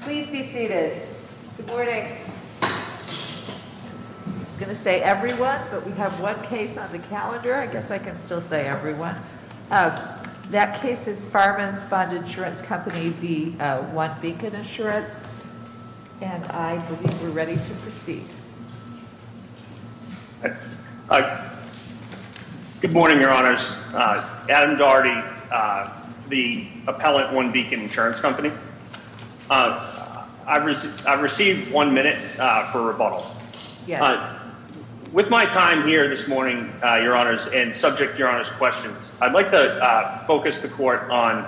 Please be seated. Good morning. It's gonna say everyone, but we have one case on the calendar. I guess I could still say everyone. Uh, that case is Farman's Fund Insurance Company v One Beacon Insurance, and I believe we're ready to proceed. Uh, good morning, Your Honor's Adam Daugherty, uh, the appellate OneBeacon Insurance Company. Uh, I received I received one minute for rebuttal with my time here this morning, Your Honor's and subject. Your Honor's questions. I'd like to focus the court on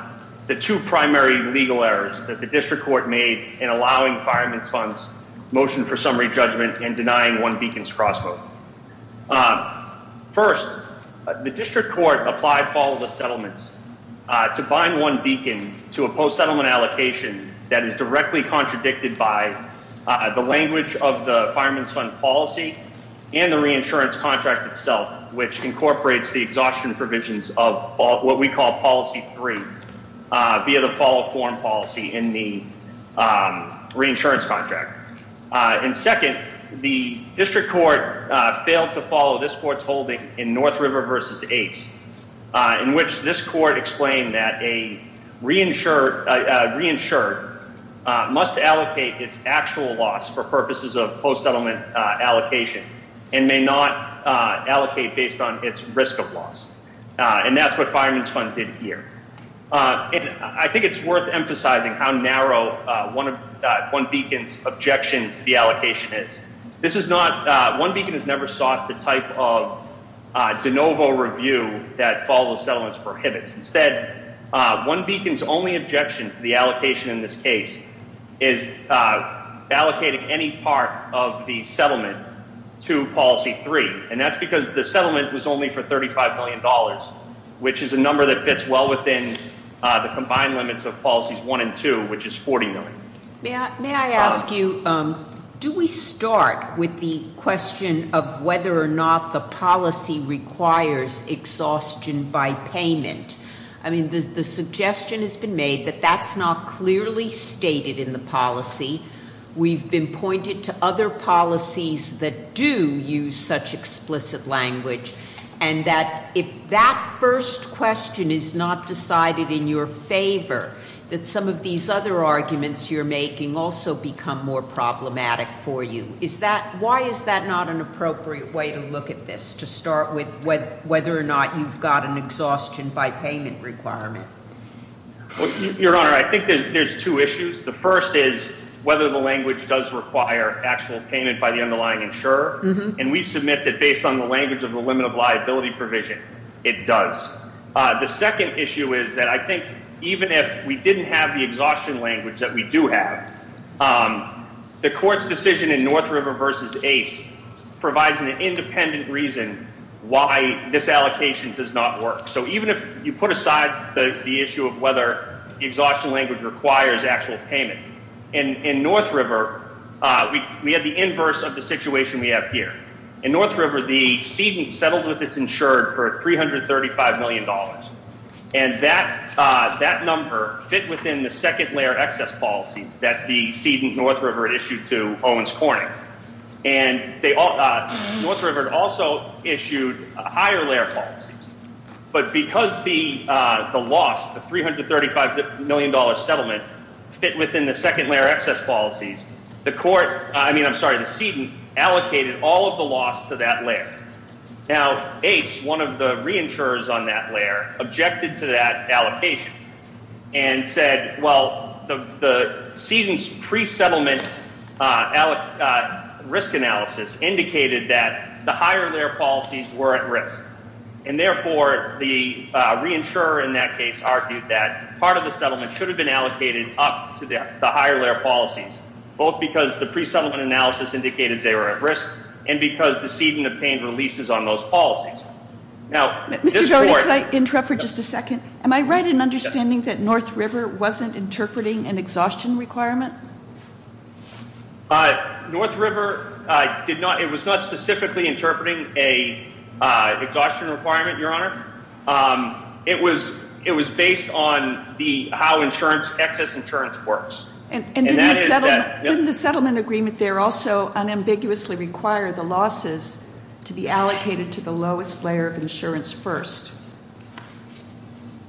the two primary legal errors that the district court made in allowing fireman's funds motion for summary judgment and denying one beacons crossboat. Uh, first, the district court applied. Follow the settlements to find one beacon to a post settlement allocation that is directly contradicted by the language of the fireman's fund policy and the reinsurance contract itself, which incorporates the exhaustion provisions of what we call policy three via the fall form policy in the reinsurance contract. And second, the district court failed to follow this court's holding in North River versus eight in which this court explained that a reinsured reinsured must allocate its actual loss for purposes of post settlement allocation and may not allocate based on its risk of loss. And that's what fireman's fund did here. Uh, I think it's worth emphasizing how narrow one of one beacons objection to the allocation is. This is not one beacon has never sought the type of de novo review that follows settlements prohibits. Instead, one beacons only objection to the allocation in this case is allocated any part of the settlement to policy three. And that's because the settlement was only for $35 million, which is a number that fits well within the combined limits of policies one and two, which is 40 million. May I ask you, um, do we start with the question of whether or not the policy requires exhaustion by payment? I mean, the suggestion has been made that that's not clearly stated in the policy. We've been pointed to other policies that do use such explicit language and that if that first question is not decided in your favor, that some of these other arguments you're making also become more problematic for you. Is that why is that not an appropriate way to look at this? To start with whether or not you've got an exhaustion by payment requirement? Your honor, I think there's two issues. The first is whether the language does require actual payment by the underlying insurer. And we submit that based on the language of the limit of liability provision, it does. The second issue is that I think even if we didn't have the exhaustion language that we do have, um, the court's decision in North River versus Ace provides an independent reason why this allocation does not work. So even if you put aside the issue of whether the exhaustion language requires actual payment in North River, we have the inverse of the situation we have here in North River. The season settled with its insured for $335 million, and that number fit within the second layer excess policies that the season North River issued to Owens Corning. And North River also issued higher layer policies. But because the loss, the $335 million settlement fit within the second layer excess policies, the court, I mean, I'm sorry, the season allocated all of the loss to that layer. Now, Ace, one of the re insurers on that layer objected to that allocation and said, Well, the season's pre settlement, uh, risk analysis indicated that the higher their policies were at risk. And therefore, the re insurer in that case argued that part of the settlement should have been allocated up to the higher layer policies, both because the pre settlement analysis indicated they were at risk and because the seeding of pain releases on those policies. Now, Mr Barrett, I interrupt for just a second. Am I right in understanding that North River wasn't interpreting an exhaustion requirement? Uh, North River did not. It was not specifically interpreting a exhaustion requirement, Your Honor. Um, it was. It was based on the how insurance excess insurance works. And in the settlement agreement, they're also unambiguously required the losses to be allocated to the lowest layer of insurance first.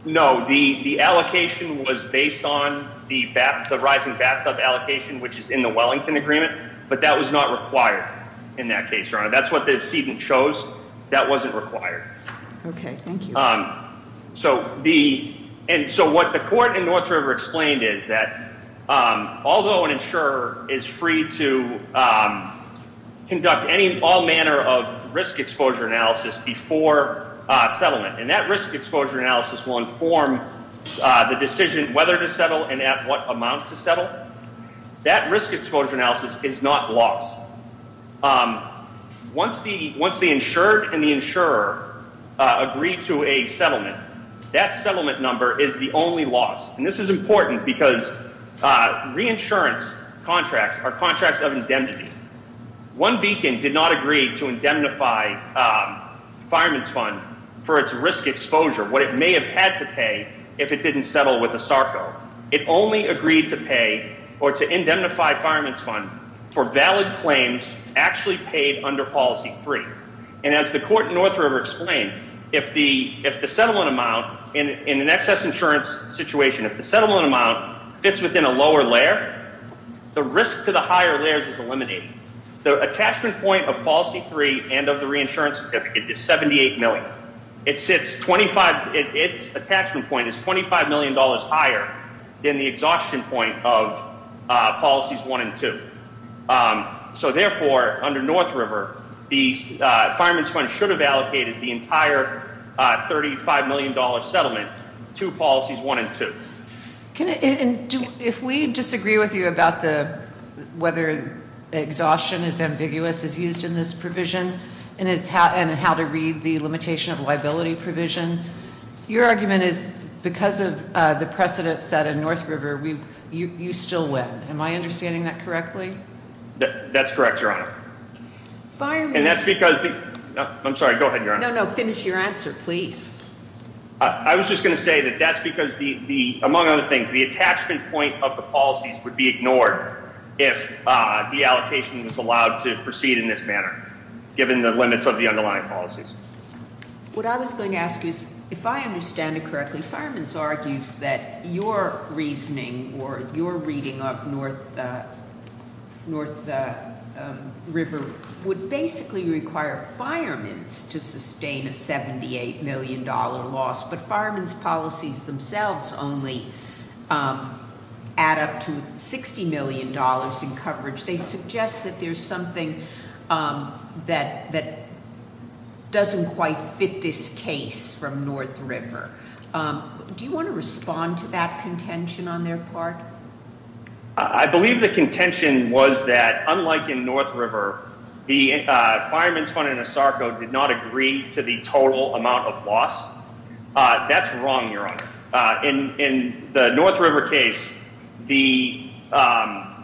No, the allocation was based on the rising backup allocation, which is in the Wellington agreement. But that was not required in that case. That's what the season shows. That wasn't required. Okay, thank you. Um, so the and so what the court in North River explained is that although an insurer is free to, um, conduct any all manner of risk exposure analysis before settlement, and that risk exposure analysis will inform the decision whether to settle and at what amount to settle that risk exposure analysis is not lost. Um, once the once the insured and the insurer agreed to a settlement, that settlement number is the only loss. And this is important because reinsurance contracts are contracts of indemnity. One beacon did not agree to indemnify, um, fireman's fund for its risk exposure. What it may have had to pay if it didn't settle with the Sarko. It only agreed to pay or to indemnify fireman's fund for valid claims actually paid under policy free. And as the court in North River explained, if the if the settlement amount in an excess insurance situation, if the settlement amount fits within a lower layer, the risk to the higher layers is eliminated. The attachment point of policy three and of the reinsurance is 78 million. It's it's 25. It's attachment point is $25 million higher than the exhaustion point of policies one and two. Um, so therefore, under North River, the fireman's fund should have allocated the entire $35 million settlement to policies one and two. Can and if we disagree with you about the whether exhaustion is ambiguous is used in this provision and it's how and how to read the limitation of liability provision. Your argument is because of the precedent set in North River, we you still win. Am I understanding that correctly? That's correct, Your Honor. Fire. And that's because I'm sorry. Go ahead. No, no. Finish your answer, please. I was just gonna say that that's because the among other things, the attachment point of the policies would be ignored if the allocation was allowed to proceed in this manner, given the limits of the underlying policies. What I was going to ask is, if I understand it correctly, fireman's argues that your reasoning or your reading of North North River would basically require fireman's to sustain a $78 million loss. But um, add up to $60 million in coverage. They suggest that there's something, um, that that doesn't quite fit this case from North River. Um, do you want to respond to that contention on their part? I believe the contention was that, unlike in North River, the fireman's fund in a sarco did not agree to the total amount of loss. Uh, that's wrong, Your Honor. Uh, in in the North River case, the, um,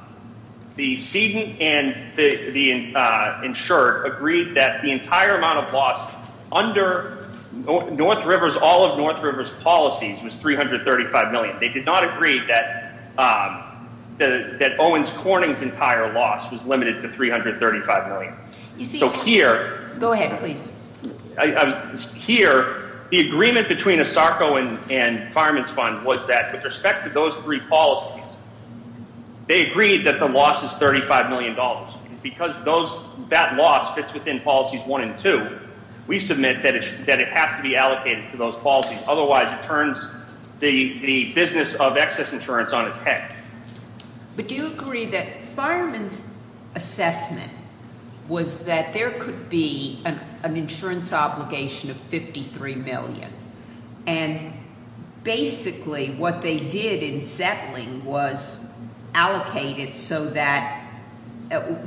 the seeding and the insured agreed that the entire amount of loss under North River's all of North River's policies was $335 million. They did not agree that, um, that Owens Corning's entire loss was limited to $335 million. You see, here, go ahead, please. Here, the agreement between a sarco and and fireman's fund was that with respect to those three policies, they agreed that the loss is $35 million because those that loss fits within policies one and two. We submit that it has to be allocated to those policies. Otherwise, it turns the business of excess insurance on its head. But do agree that fireman's assessment was that there could be an insurance obligation of 53 million. And basically, what they did in settling was allocated so that,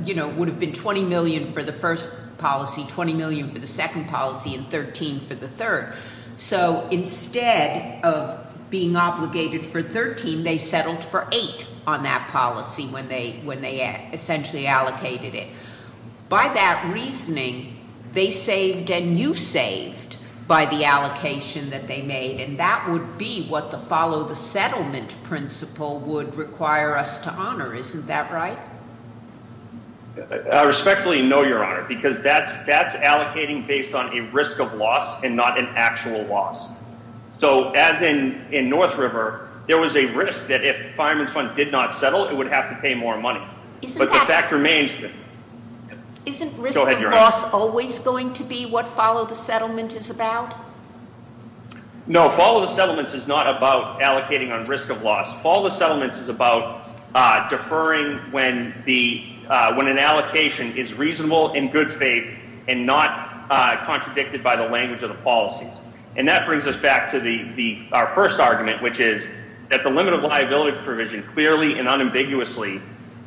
you know, would have been 20 million for the first policy, 20 million for the second policy and 13 for the third. So instead of being obligated for that policy when they when they essentially allocated it by that reasoning, they saved and you saved by the allocation that they made. And that would be what the follow the settlement principle would require us to honor. Isn't that right? I respectfully know your honor, because that's that's allocating based on a risk of loss and not an actual loss. So as in in North River, there was a risk that if fireman's fund did not settle, it would have to pay more money. But the fact remains that isn't risk loss always going to be what follow the settlement is about. No, follow the settlements is not about allocating on risk of loss. Follow the settlements is about deferring when the when an allocation is reasonable in good faith and not contradicted by the language of the policies. And that clearly and unambiguously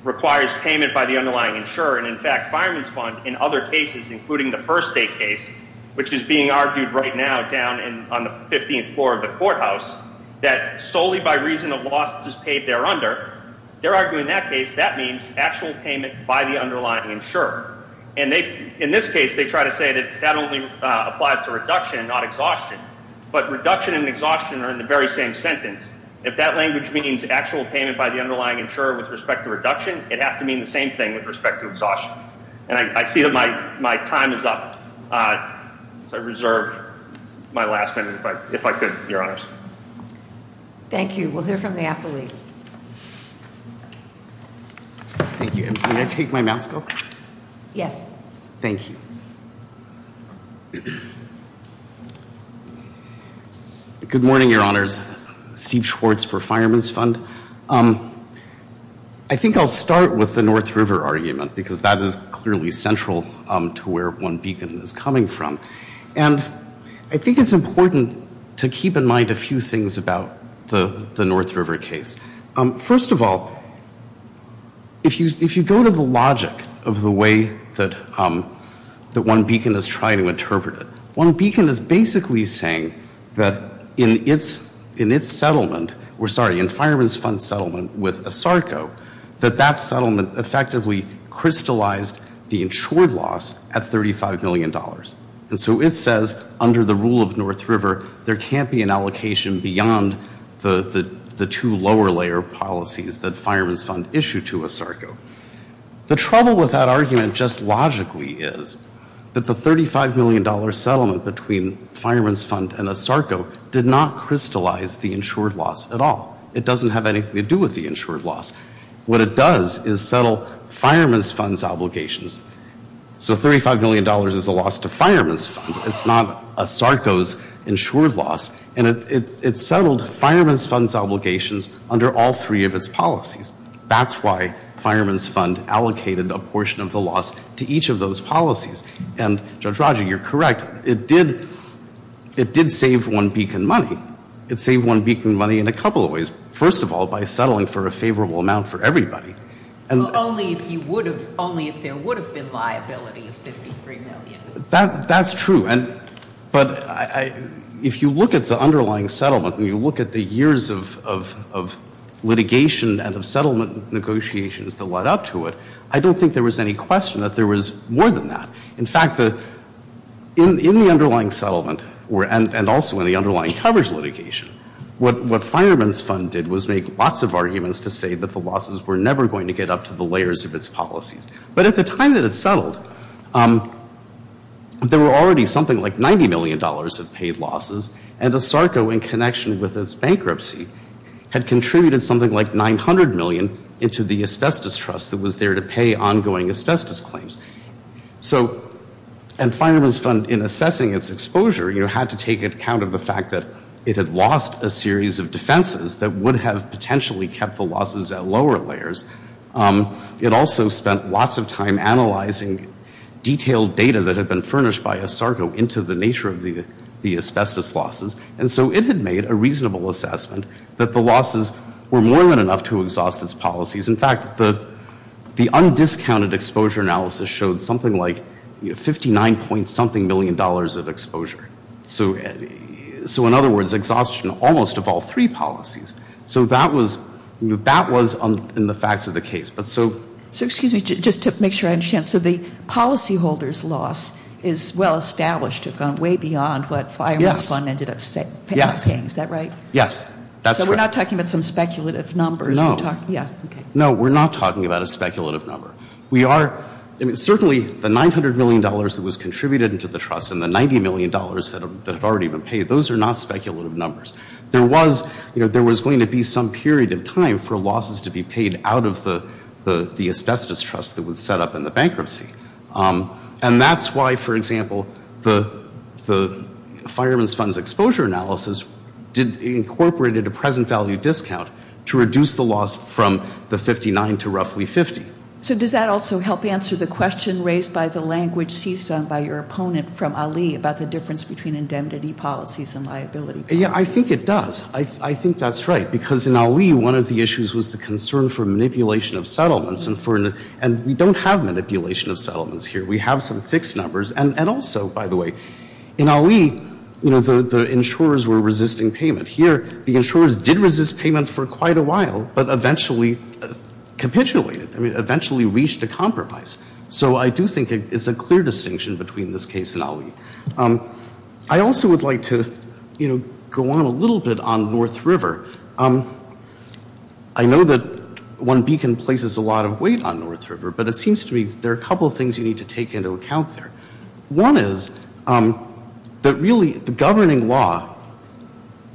requires payment by the underlying insurer. And in fact, fireman's fund in other cases, including the first state case, which is being argued right now down on the 15th floor of the courthouse, that solely by reason of losses paid there under their arguing that case, that means actual payment by the underlying insurer. And in this case, they try to say that that only applies to reduction, not exhaustion. But reduction and exhaustion are in the very same sentence. If that language means actual payment by the underlying insurer with respect to reduction, it has to mean the same thing with respect to exhaustion. And I see that my my time is up. Uh, I reserved my last minute if I if I could, Your Honors. Thank you. We'll hear from the athlete. Thank you. I take my mask off. Yes. Thank you. Mhm. Good morning, Your Honors. Steve Schwartz for Fireman's Fund. Um, I think I'll start with the North River argument, because that is clearly central to where one beacon is coming from. And I think it's important to keep in mind a few things about the North River case. First of all, if you if you go to the logic of the way that, um, that one beacon is trying to interpret it, one beacon is basically saying that in its in its settlement, we're sorry, in Fireman's Fund settlement with ASARCO, that that settlement effectively crystallized the insured loss at $35 million. And so it says under the rule of North River, there can't be an policies that Fireman's Fund issued to ASARCO. The trouble with that argument just logically is that the $35 million settlement between Fireman's Fund and ASARCO did not crystallize the insured loss at all. It doesn't have anything to do with the insured loss. What it does is settle Fireman's Fund's obligations. So $35 million is a loss to Fireman's Fund. It's not ASARCO's obligations under all three of its policies. That's why Fireman's Fund allocated a portion of the loss to each of those policies. And Judge Roger, you're correct. It did, it did save one beacon money. It saved one beacon money in a couple of ways. First of all, by settling for a favorable amount for everybody. And only if you would have, only if there would have been liability of $53 million. That, that's true. And, but I, if you look at the underlying settlement and you look at the years of, of, of litigation and of settlement negotiations that led up to it, I don't think there was any question that there was more than that. In fact, the, in, in the underlying settlement were, and also in the underlying coverage litigation, what, what Fireman's Fund did was make lots of arguments to say that the losses were never going to get up to the layers of its policies. But at the time that it settled, there were already something like $90 million of paid losses. And ASARCO, in connection with its bankruptcy, had contributed something like $900 million into the Asbestos Trust that was there to pay ongoing asbestos claims. So, and Fireman's Fund, in assessing its exposure, you know, had to take account of the fact that it had lost a series of defenses that would have potentially kept the losses at lower layers. It also spent lots of time analyzing detailed data that had been furnished by ASARCO into the nature of the, the asbestos losses. And so it had made a reasonable assessment that the losses were more than enough to exhaust its policies. In fact, the, the undiscounted exposure analysis showed something like, you know, 59 point something million dollars of exposure. So, so in other words, exhaustion almost of all three policies. So that was, you know, that was in the facts of the case. But so, so excuse me, just to make sure I understand. So the policyholders' loss is well beyond what Fireman's Fund ended up paying, is that right? Yes. Yes. So we're not talking about some speculative numbers? No. Yeah, okay. No, we're not talking about a speculative number. We are, I mean, certainly the $900 million that was contributed into the trust and the $90 million that had already been paid, those are not speculative numbers. There was, you know, there was going to be some period of time for losses to be paid out of the, the Asbestos Trust that was set up in the bankruptcy. And that's why, for example, the, the Fireman's Fund's exposure analysis did, incorporated a present value discount to reduce the loss from the 59 to roughly 50. So does that also help answer the question raised by the language ceased on by your opponent from Ali about the difference between indemnity policies and liability? Yeah, I think it does. I, I think that's right. Because in Ali, one of the issues was the concern for manipulation of settlements here. We have some fixed numbers. And, and also, by the way, in Ali, you know, the, the insurers were resisting payment. Here, the insurers did resist payment for quite a while, but eventually capitulated. I mean, eventually reached a compromise. So I do think it's a clear distinction between this case and Ali. I also would like to, you know, go on a little bit on North River. I know that one beacon places a lot of weight on North River, but it seems to me there are a couple of things you need to take into account there. One is that really the governing law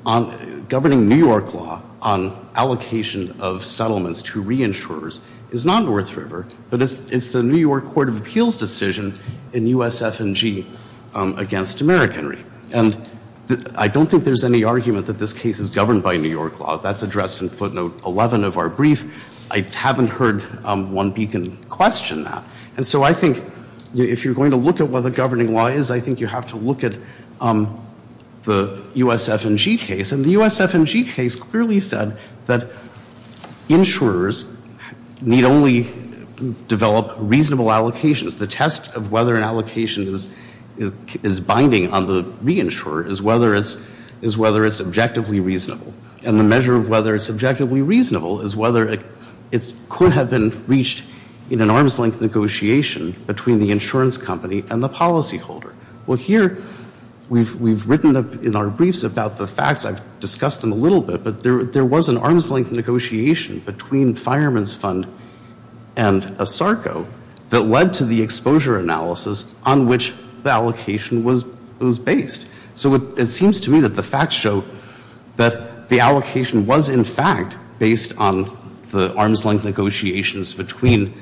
on, governing New York law on allocation of settlements to reinsurers is not North River, but it's, it's the New York Court of Appeals decision in USF&G against Americanry. And I don't think there's any argument that this case is governed by New York law. That's addressed in footnote 11 of our brief. I haven't heard one beacon question that. And so I think if you're going to look at what the governing law is, I think you have to look at the USF&G case. And the USF&G case clearly said that insurers need only develop reasonable allocations. The test of whether an allocation is, is binding on the reinsurer is whether it's, is whether it's objectively reasonable. And the it's, could have been reached in an arm's-length negotiation between the insurance company and the policyholder. Well here, we've, we've written up in our briefs about the facts. I've discussed them a little bit, but there, there was an arm's-length negotiation between Fireman's Fund and ASARCO that led to the exposure analysis on which the allocation was, was based. So it seems to me that the facts show that the allocation was, in fact, based on the arm's-length negotiations between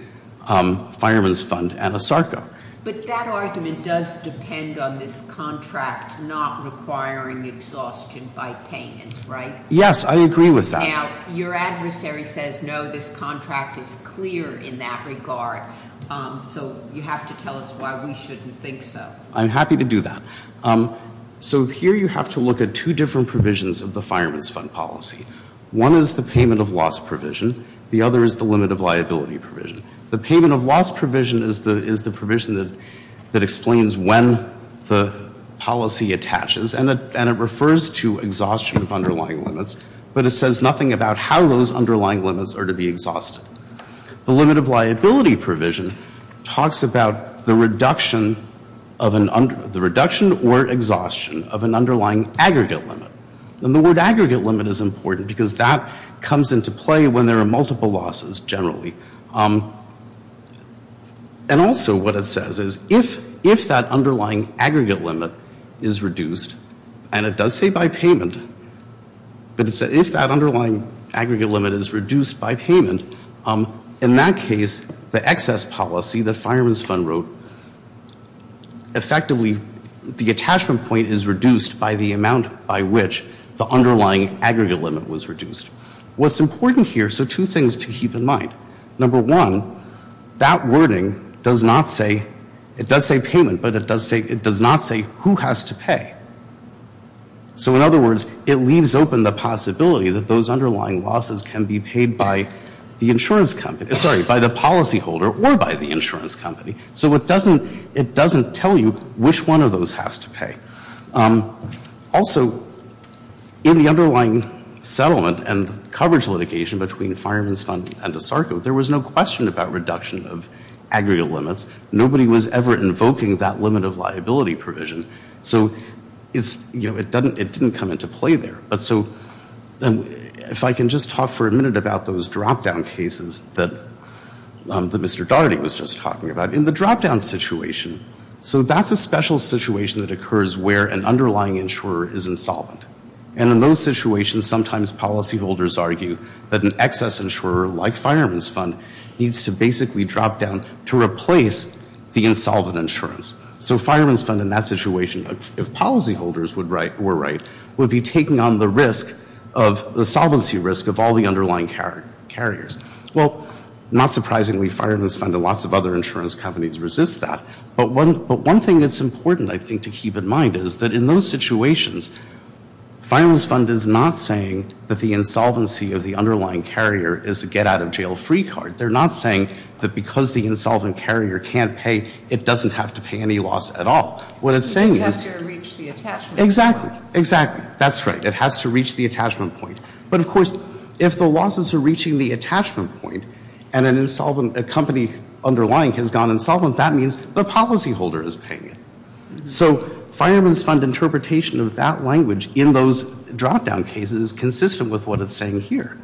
Fireman's Fund and ASARCO. But that argument does depend on this contract not requiring exhaustion by payment, right? Yes, I agree with that. Now, your adversary says no, this contract is clear in that regard. So you have to tell us why we shouldn't think so. I'm happy to do that. So here, you have to look at two different provisions of the Fireman's Fund policy. One is the payment of loss provision. The other is the limit of liability provision. The payment of loss provision is the, is the provision that, that explains when the policy attaches. And it, and it refers to exhaustion of underlying limits, but it says nothing about how those underlying limits are to be exhausted. The limit of liability provision talks about the reduction of an under, the reduction or exhaustion of an underlying aggregate limit. And the word aggregate limit is important because that comes into play when there are multiple losses, generally. And also what it says is if, if that underlying aggregate limit is reduced, and it does say by payment, but it said if that underlying aggregate limit is reduced by payment, in that case, the excess policy the Fireman's Fund wrote, effectively, the attachment point is reduced by the amount by which the underlying aggregate limit was reduced. What's important here, so two things to keep in mind. Number one, that wording does not say, it does say payment, but it does say, it does not say who has to pay. So in other words, it leaves open the possibility that those underlying losses can be paid by the policyholder or by the insurance company. So it doesn't, it doesn't tell you which one of those has to pay. Also, in the underlying settlement and coverage litigation between Fireman's Fund and ASARCO, there was no question about reduction of aggregate limits. Nobody was ever invoking that limit of liability provision. So it's, you know, it doesn't, it didn't come into play there. But so, and if I can just talk for a minute about those drop-down cases that Mr. Dougherty was just talking about. In the drop-down situation, so that's a special situation that occurs where an underlying insurer is insolvent. And in those situations, sometimes policyholders argue that an excess insurer, like Fireman's Fund, needs to basically drop down to replace the insolvent insurance. So Fireman's Fund, in that situation, if policyholders would write, were right, would be taking on the risk of, the solvency risk of all the underlying carriers. Well, not surprisingly, Fireman's Fund and lots of other insurance companies resist that. But one, but one thing that's important, I think, to keep in mind is that in those situations, Fireman's Fund is not saying that the insolvency of the underlying carrier is a get-out-of-jail-free card. They're not saying that because the insolvent carrier can't pay, it doesn't have to pay any loss at all. What it's saying is... It just has to reach the attachment point. Exactly, exactly. That's right. It has to reach the attachment point. But of course, if the losses are reaching the attachment point and an insolvent, a company underlying has gone insolvent, that means the policyholder is paying it. So Fireman's Fund interpretation of that language in those drop-down cases is consistent with what it's saying here.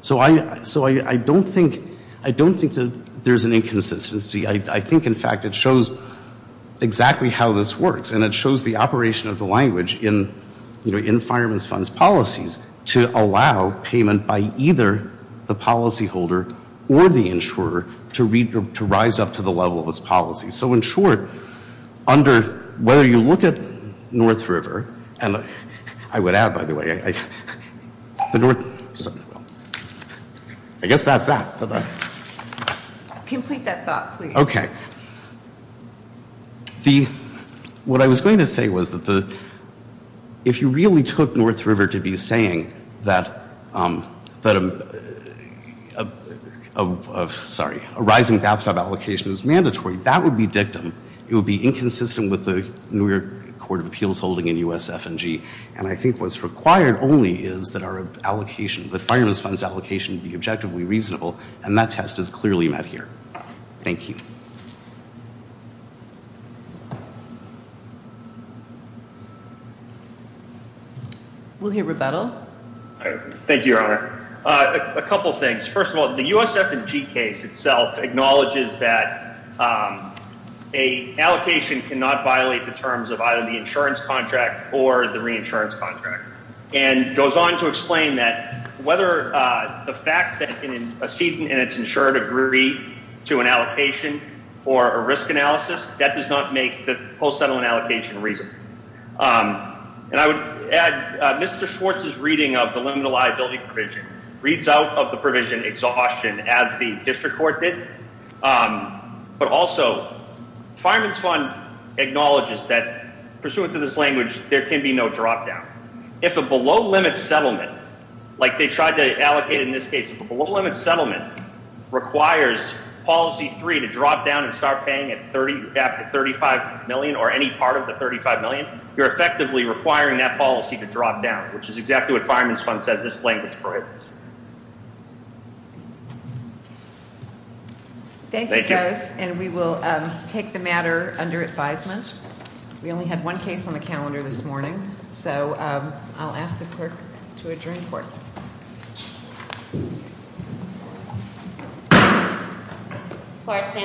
So I, so I don't think, I don't think that there's an exact way how this works and it shows the operation of the language in, you know, in Fireman's Fund's policies to allow payment by either the policyholder or the insurer to read, to rise up to the level of its policy. So in short, under whether you look at North River and I would add, by the way, I guess that's that. Complete that thought please. Okay. The, what I was going to say was that the, if you really took North River to be saying that, that a, sorry, a rising bathtub allocation is mandatory, that would be dictum. It would be inconsistent with the New York Court of Appeals holding in USF&G and I think what's required only is that our allocation, that Fireman's Fund's allocation be objectively reasonable and that test is clearly met here. Thank you. We'll hear rebuttal. Thank you, Your Honor. A couple things. First of all, the USF&G case itself acknowledges that a allocation cannot violate the terms of either the insurance contract or the reinsurance contract and goes on to exceed and it's insured agree to an allocation or a risk analysis. That does not make the post-settlement allocation reasonable. And I would add, Mr. Schwartz's reading of the limited liability provision reads out of the provision exhaustion as the district court did, but also Fireman's Fund acknowledges that pursuant to this language, there can be no drop-down. If a below-limit settlement, like they tried to allocate in this case, if a below-limit settlement requires policy three to drop down and start paying at 30, you're capped at 35 million or any part of the 35 million, you're effectively requiring that policy to drop down, which is exactly what Fireman's Fund says this language prohibits. Thank you both and we will take the matter under advisement. We only had one case on the calendar this